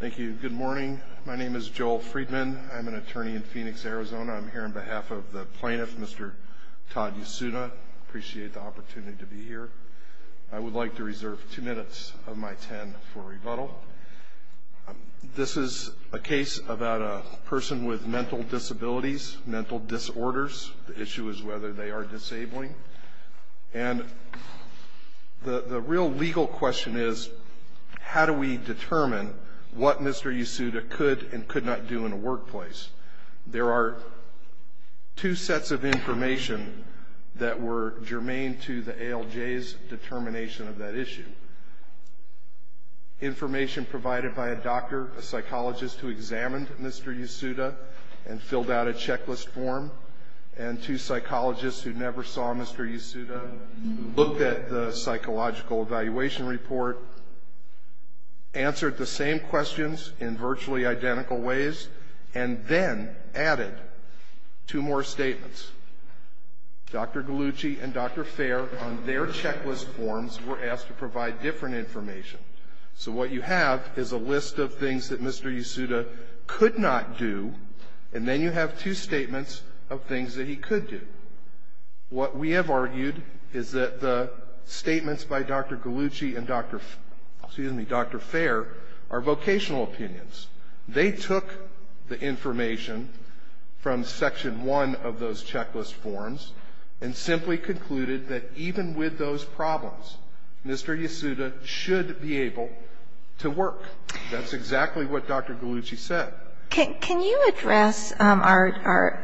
Thank you. Good morning. My name is Joel Friedman. I'm an attorney in Phoenix, Arizona. I'm here on behalf of the plaintiff, Mr. Todd Yasuda. I appreciate the opportunity to be here. I would like to reserve two minutes of my ten for rebuttal. This is a case about a person with mental disabilities, mental disorders. The issue is whether they are disabling. And the real legal question is, how do we determine what Mr. Yasuda could and could not do in a workplace? There are two sets of information that were germane to the ALJ's determination of that issue. Information provided by a doctor, a psychologist who examined Mr. Yasuda and filled out a checklist form, and two psychologists who never saw Mr. Yasuda, looked at the psychological evaluation report, answered the same questions in virtually identical ways, and then added two more statements. Dr. Gallucci and Dr. Fair, on their checklist forms, were asked to provide different information. So what you have is a list of things that Mr. Yasuda could not do, and then you have two statements of things that he could do. What we have argued is that the statements by Dr. Gallucci and Dr. Fair are vocational opinions. They took the information from Section 1 of those checklist forms and simply concluded that even with those problems, Mr. Yasuda should be able to work. That's exactly what Dr. Gallucci said. Can you address our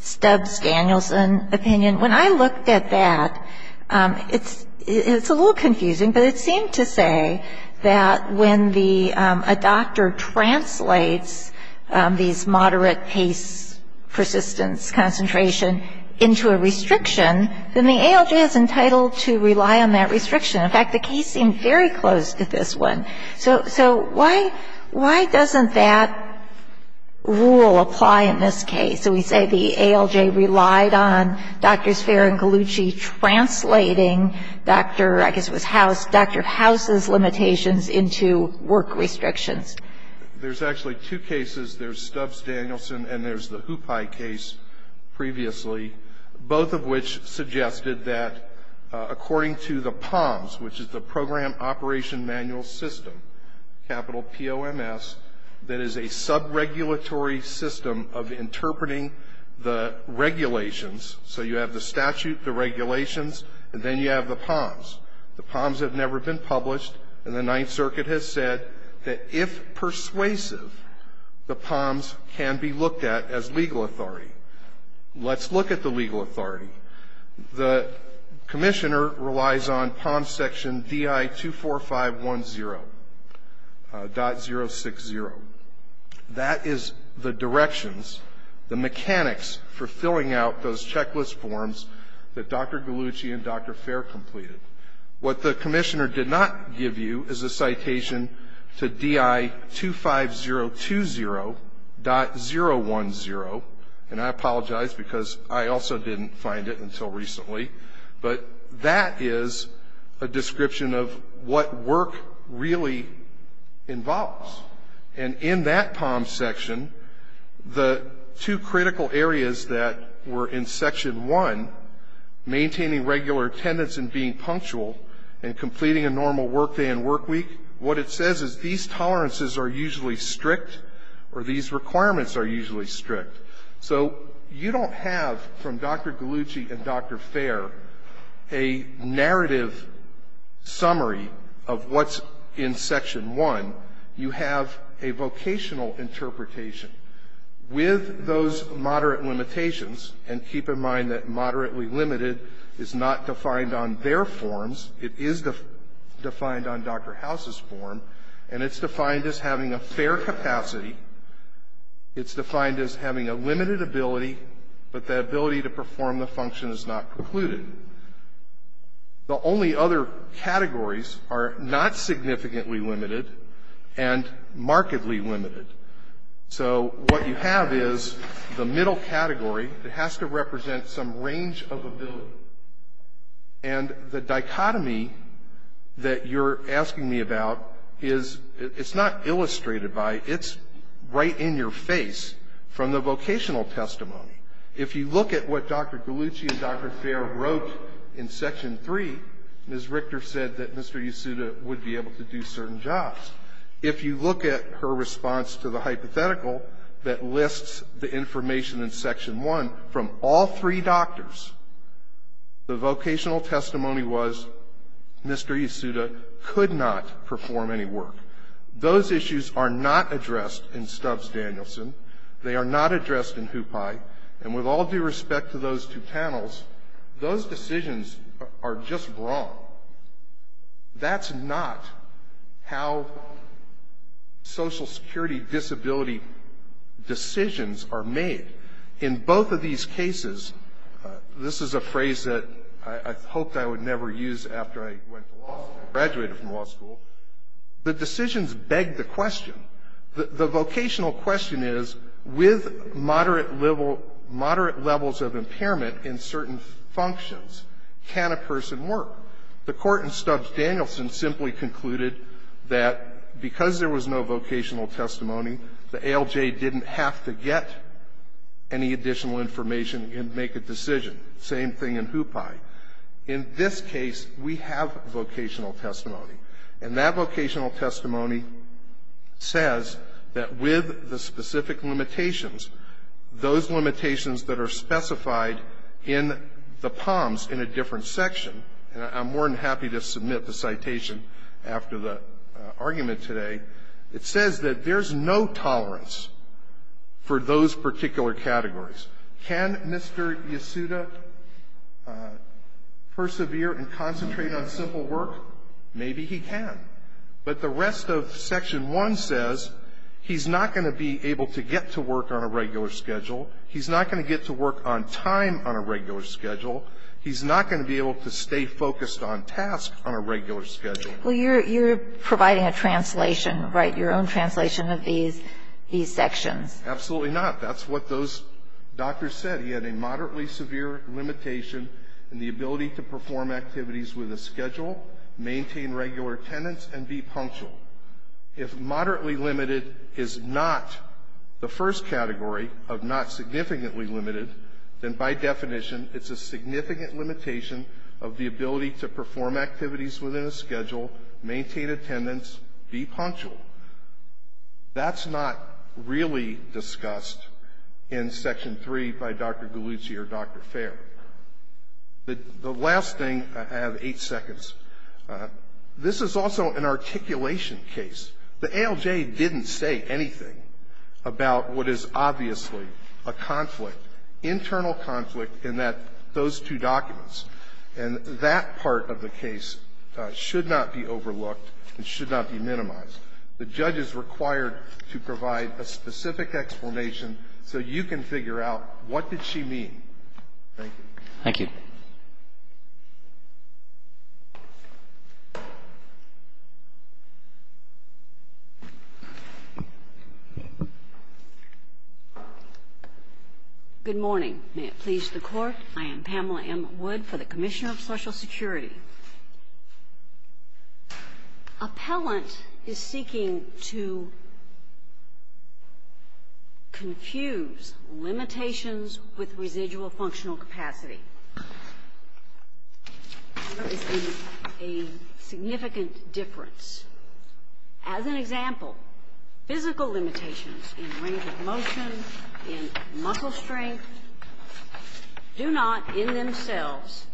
Stubbs-Danielson opinion? When I looked at that, it's a little confusing, but it seemed to say that when a doctor translates these moderate pace persistence concentration into a restriction, then the ALJ is entitled to rely on that restriction. In fact, the case seemed very close to this one. So why doesn't that rule apply in this case? So we say the ALJ relied on Drs. Fair and Gallucci translating Dr. — I guess it was House — Dr. House's limitations into work restrictions. There's actually two cases. There's Stubbs-Danielson and there's the Hupai case previously, both of which suggested that according to the POMS, which is the Program Operation Manual System, capital P-O-M-S, that is a sub-regulatory system of interpreting the regulations. So you have the statute, the regulations, and then you have the POMS. The POMS have never been published, and the Ninth Circuit has said that if persuasive, the POMS can be looked at as legal authority. Let's look at the legal authority. The commissioner relies on POMS section DI-24510.060. That is the directions, the mechanics for filling out those checklist forms that Dr. Gallucci and Dr. Fair completed. What the commissioner did not give you is a citation to DI-25020.010, and I apologize because I also didn't find it until recently, but that is a description of what work really involves. And in that POMS section, the two critical areas that were in section 1, maintaining regular attendance and being punctual, and completing a normal workday and workweek, what it says is these tolerances are usually strict, or these requirements are usually strict. So you don't have, from Dr. Gallucci and Dr. Fair, a narrative summary of what's in section 1. You have a vocational interpretation. With those moderate limitations, and keep in mind that moderately limited is not defined on their forms. It is defined on Dr. House's form, and it's defined as having a fair capacity. It's defined as having a limited ability, but the ability to perform the function is not precluded. The only other categories are not significantly limited and markedly limited. So what you have is the middle category that has to represent some range of ability, and the dichotomy that you're asking me about is, it's not illustrated by, it's right in your face from the vocational testimony. If you look at what Dr. Gallucci and Dr. Fair wrote in section 3, Ms. Richter said that Mr. Yasuda would be able to do certain jobs. If you look at her response to the hypothetical that lists the information in section 1, from all three doctors, the vocational testimony was Mr. Yasuda could not perform any work. Those issues are not addressed in Stubbs-Danielson. They are not addressed in Hupai. And with all due respect to those two panels, those decisions are just wrong. That's not how Social Security disability decisions are made. In both of these cases, this is a phrase that I hoped I would never use after I went to law school, graduated from law school, the decisions beg the question. The vocational question is, with moderate levels of impairment in certain functions, can a person work? The Court in Stubbs-Danielson simply concluded that because there was no vocational testimony, the ALJ didn't have to get any additional information and make a decision. Same thing in Hupai. In this case, we have vocational testimony. And that vocational testimony says that with the specific limitations, those limitations that are specified in the POMs in a different section, and I'm more than happy to submit the citation after the argument today, it says that there's no tolerance for those particular categories. Can Mr. Yasuda persevere and concentrate on simple work? Maybe he can. But the rest of Section 1 says he's not going to be able to get to work on a regular schedule. He's not going to get to work on time on a regular schedule. He's not going to be able to stay focused on tasks on a regular schedule. Well, you're providing a translation, right, your own translation of these sections. Absolutely not. That's what those doctors said. He had a moderately severe limitation in the ability to perform activities with a schedule, maintain regular attendance, and be punctual. If moderately limited is not the first category of not significantly limited, then by definition it's a significant limitation of the ability to perform activities within a schedule, maintain attendance, be punctual. That's not really discussed in Section 3 by Dr. Galluzzi or Dr. Fair. The last thing, I have eight seconds. This is also an articulation case. The ALJ didn't say anything about what is obviously a conflict, internal conflict, in those two documents. And that part of the case should not be overlooked and should not be minimized. The judge is required to provide a specific explanation so you can figure out what did she mean. Thank you. Thank you. Good morning. May it please the Court. I am Pamela M. Wood for the Commissioner of Social Security. Appellant is seeking to confuse limitations with residual functional capacity. There is a significant difference. As an example, physical limitations in range of motion, in muscle strength, do not in themselves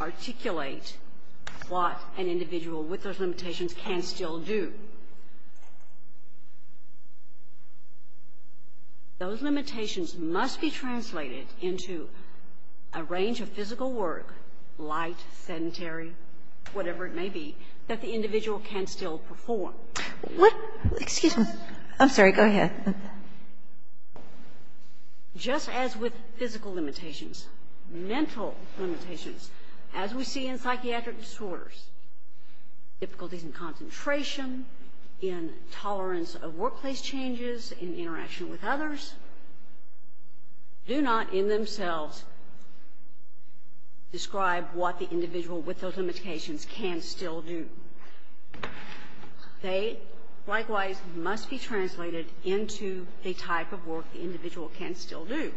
articulate what an individual with those limitations can still do. Those limitations must be translated into a range of physical work, light, sedentary, whatever it may be, that the individual can still perform. What? Excuse me. Go ahead. Just as with physical limitations, mental limitations, as we see in psychiatric disorders, difficulties in concentration, in tolerance of workplace changes, in interaction with others, do not in themselves describe what the individual with those limitations can still do. They, likewise, must be translated into a type of work the individual can still do.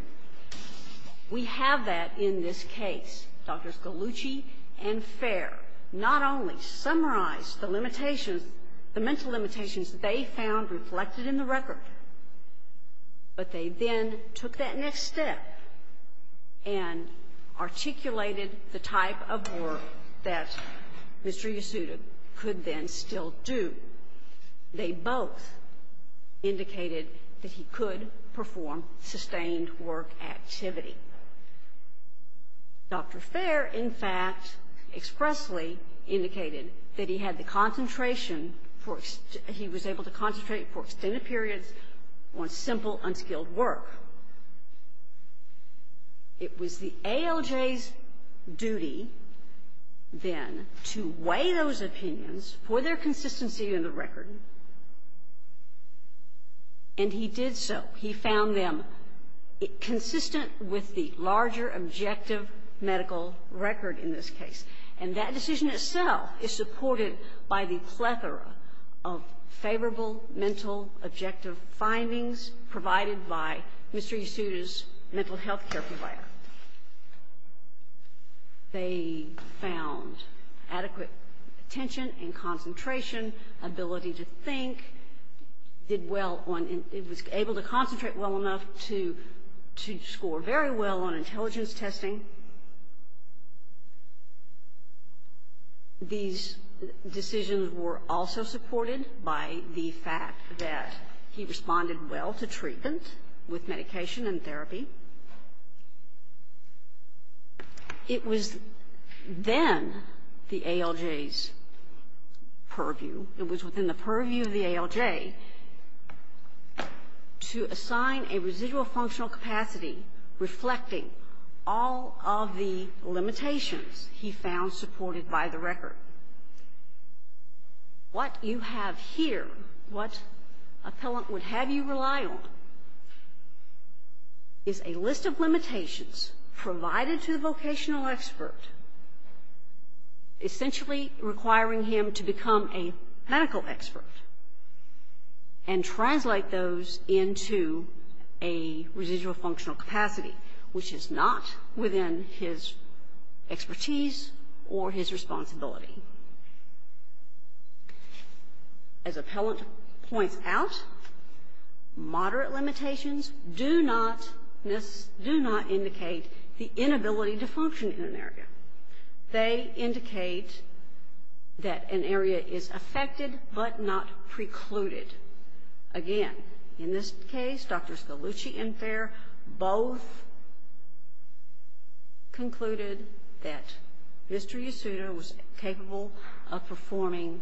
We have that in this case. Drs. Gallucci and Fair not only summarized the limitations, the mental limitations they found reflected in the record, but they then took that next step and articulated the type of work that Mr. Yasuda could then still do. They both indicated that he could perform sustained work activity. Dr. Fair, in fact, expressly indicated that he had the concentration for, he was able to concentrate for extended periods on simple, unskilled work. It was the ALJ's duty, then, to weigh those opinions for their consistency in the record, and he did so. He found them consistent with the larger objective medical record in this case. And that decision itself is supported by the plethora of favorable mental objective findings provided by Mr. Yasuda's mental health care provider. They found adequate attention and concentration, ability to think, did well on, was able to concentrate well enough to score very well on intelligence testing. These decisions were also supported by the fact that he responded well to treatment with medication and therapy. It was then the ALJ's purview, it was within the purview of the ALJ, to assign a residual functional capacity reflecting all of the limitations he found supported by the record. What you have here, what appellant would have you rely on, is a list of limitations provided to the vocational expert, essentially requiring him to become a medical expert, and translate those into a residual functional capacity, which is not within his expertise or his responsibility. As appellant points out, moderate limitations do not indicate the inability to function in an area. They indicate that an area is affected but not precluded. Again, in this case, Dr. Scalucci and Fair both concluded that Mr. Yasuda was capable of performing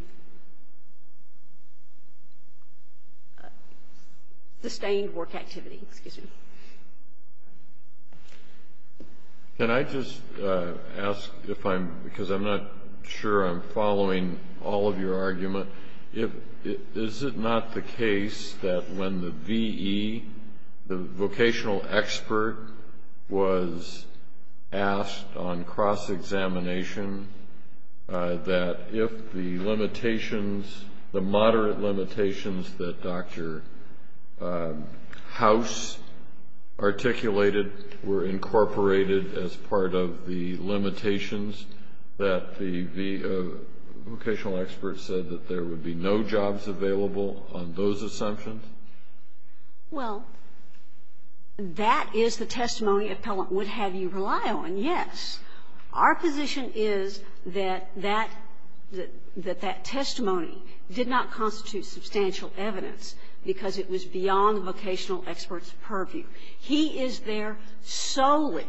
sustained work activity. Excuse me. Can I just ask, because I'm not sure I'm following all of your argument, is it not the case that when the VE, the vocational expert, was asked on cross-examination that if the limitations, the moderate limitations that Dr. House articulated were incorporated as part of the limitations, that the vocational expert said that there would be no jobs available on those assumptions? Well, that is the testimony appellant would have you rely on, yes. Our position is that that testimony did not constitute substantial evidence, because it was beyond the vocational expert's purview. He is there solely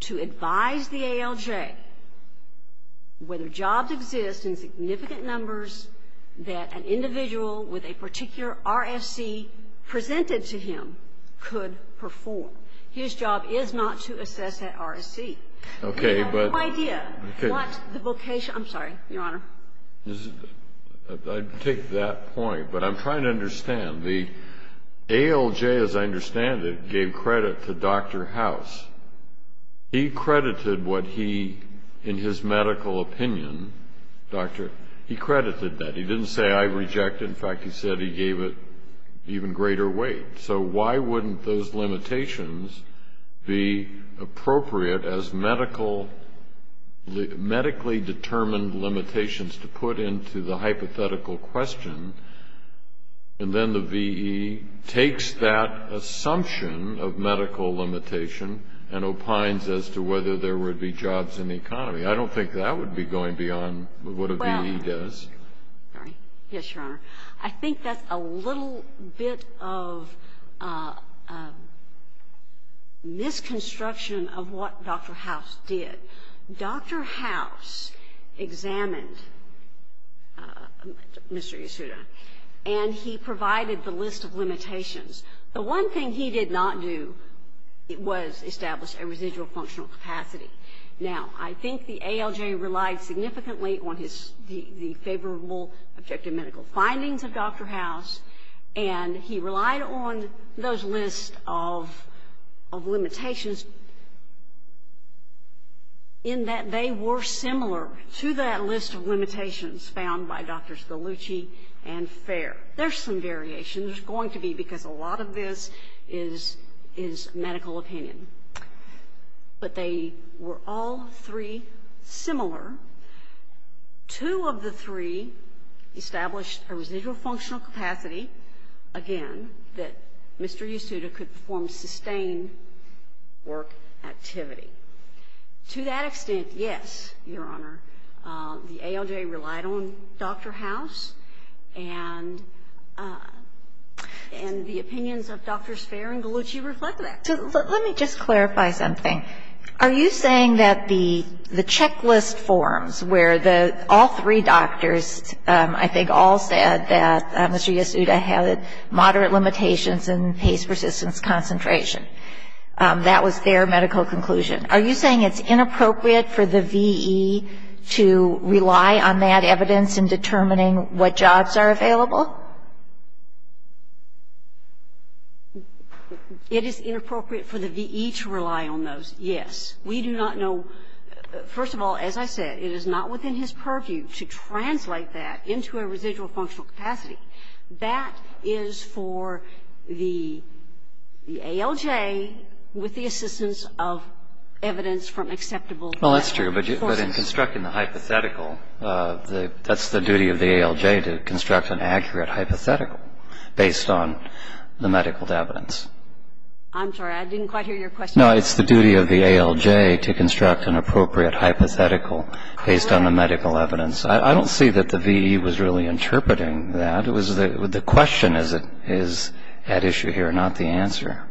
to advise the ALJ whether jobs exist in significant numbers that an individual with a particular RFC presented to him could perform. His job is not to assess that RFC. Okay, but We have no idea what the vocation, I'm sorry, Your Honor. I take that point, but I'm trying to understand. The ALJ, as I understand it, gave credit to Dr. House. He credited what he, in his medical opinion, Doctor, he credited that. He didn't say, I reject it. In fact, he said he gave it even greater weight. So why wouldn't those limitations be appropriate as medical, medically determined limitations to put into the hypothetical question, and then the V.E. takes that assumption of medical limitation and opines as to whether there would be jobs in the economy. I don't think that would be going beyond what a V.E. does. Yes, Your Honor. I think that's a little bit of misconstruction of what Dr. House did. Dr. House examined Mr. Yasuda, and he provided the list of limitations. The one thing he did not do was establish a residual functional capacity. Now, I think the ALJ relied significantly on the favorable objective medical findings of Dr. House, and he relied on those lists of limitations in that they were similar to that list of limitations found by Drs. Gallucci and Fair. There's some variation. There's going to be, because a lot of this is medical opinion. But they were all three similar. Two of the three established a residual functional capacity, again, that Mr. Yasuda could perform sustained work activity. To that extent, yes, Your Honor. The ALJ relied on Dr. House, and the opinions of Drs. Fair and Gallucci reflect that. Let me just clarify something. Are you saying that the checklist forms where all three doctors, I think, all said that Mr. Yasuda had moderate limitations in pace, persistence, concentration, that was their medical conclusion. Are you saying it's inappropriate for the V.E. to rely on that evidence in determining what jobs are available? It is inappropriate for the V.E. to rely on those, yes. We do not know. First of all, as I said, it is not within his purview to translate that into a residual functional capacity. That is for the ALJ with the assistance of evidence from acceptable forces. Well, that's true. But in constructing the hypothetical, that's the duty of the ALJ to construct an accurate hypothetical based on the medical evidence. I'm sorry. I didn't quite hear your question. No, it's the duty of the ALJ to construct an appropriate hypothetical based on the medical evidence. I don't see that the V.E. was really interpreting that. It was the question is at issue here, not the answer.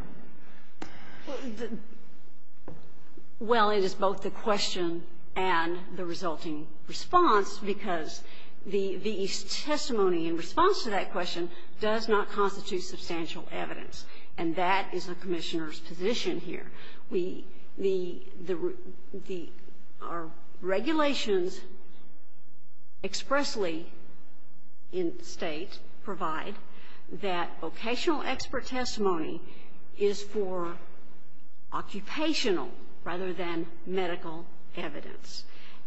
Well, it is both the question and the resulting response, because the V.E.'s testimony in response to that question does not constitute substantial evidence. And that is the Commissioner's position here. We the the the our regulations expressly in State provide that vocational expert testimony is for occupational rather than medical evidence.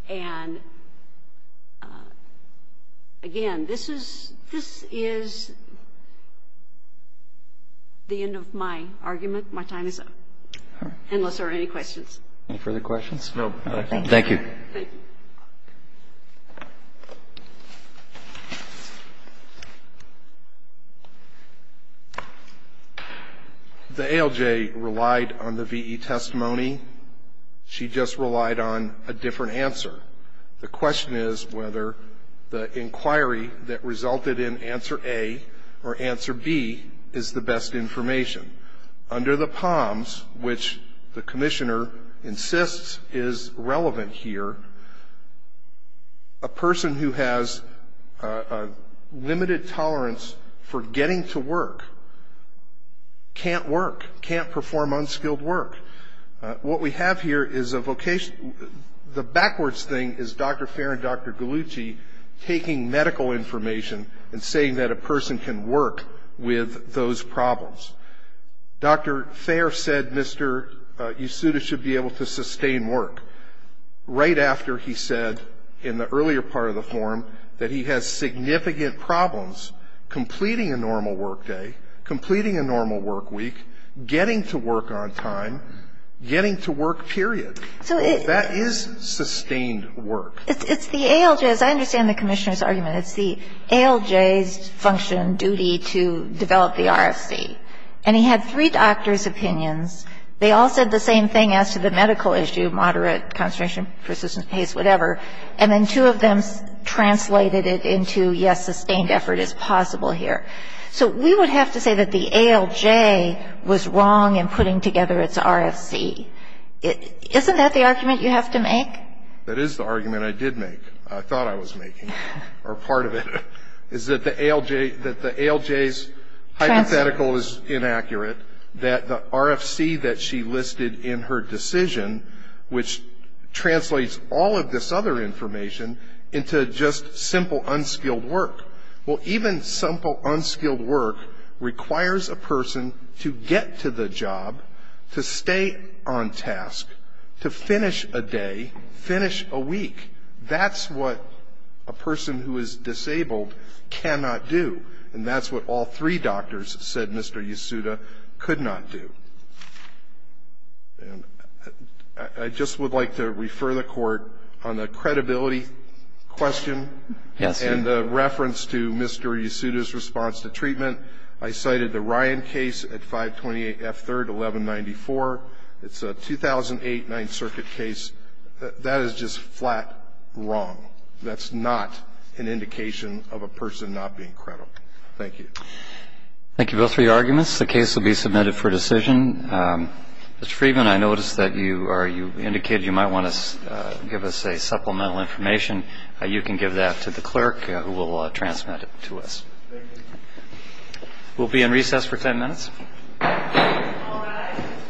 And again, this is this is the end of my argument. My time is up. Unless there are any questions. Any further questions? No. Thank you. Thank you. The ALJ relied on the V.E. testimony. She just relied on a different answer. The question is whether the inquiry that resulted in answer A or answer B is the best information. Under the POMS, which the Commissioner insists is relevant here, a person who has a limited tolerance for getting to work can't work, can't perform unskilled work. What we have here is a vocation. The backwards thing is Dr. Fair and Dr. Gallucci taking medical information and saying that a person can work with those problems. Dr. Fair said Mr. Yasuda should be able to sustain work right after he said in the earlier part of the forum that he has significant problems completing a normal work day, completing a normal work week, getting to work on time, getting to work, period. So that is sustained work. It's the ALJ. As I understand the Commissioner's argument, it's the ALJ's function and duty to develop the RFC. And he had three doctors' opinions. They all said the same thing as to the medical issue, moderate, concentration, persistence, whatever. And then two of them translated it into, yes, sustained effort is possible here. So we would have to say that the ALJ was wrong in putting together its RFC. Isn't that the argument you have to make? That is the argument I did make, I thought I was making, or part of it, is that the ALJ's hypothetical is inaccurate, that the RFC that she listed in her decision, which translates all of this other information into just simple, unskilled work. Well, even simple, unskilled work requires a person to get to the job, to stay on task, to finish a day, finish a week. That's what a person who is disabled cannot do. And that's what all three doctors said Mr. Yasuda could not do. And I just would like to refer the Court on the credibility question and reference to Mr. Yasuda's response to treatment. I cited the Ryan case at 528 F. 3rd, 1194. It's a 2008 Ninth Circuit case. That is just flat wrong. That's not an indication of a person not being credible. Thank you. Thank you both for your arguments. The case will be submitted for decision. Mr. Friedman, I noticed that you indicated you might want to give us supplemental information. You can give that to the clerk who will transmit it to us. Thank you. We'll be in recess for ten minutes. All rise.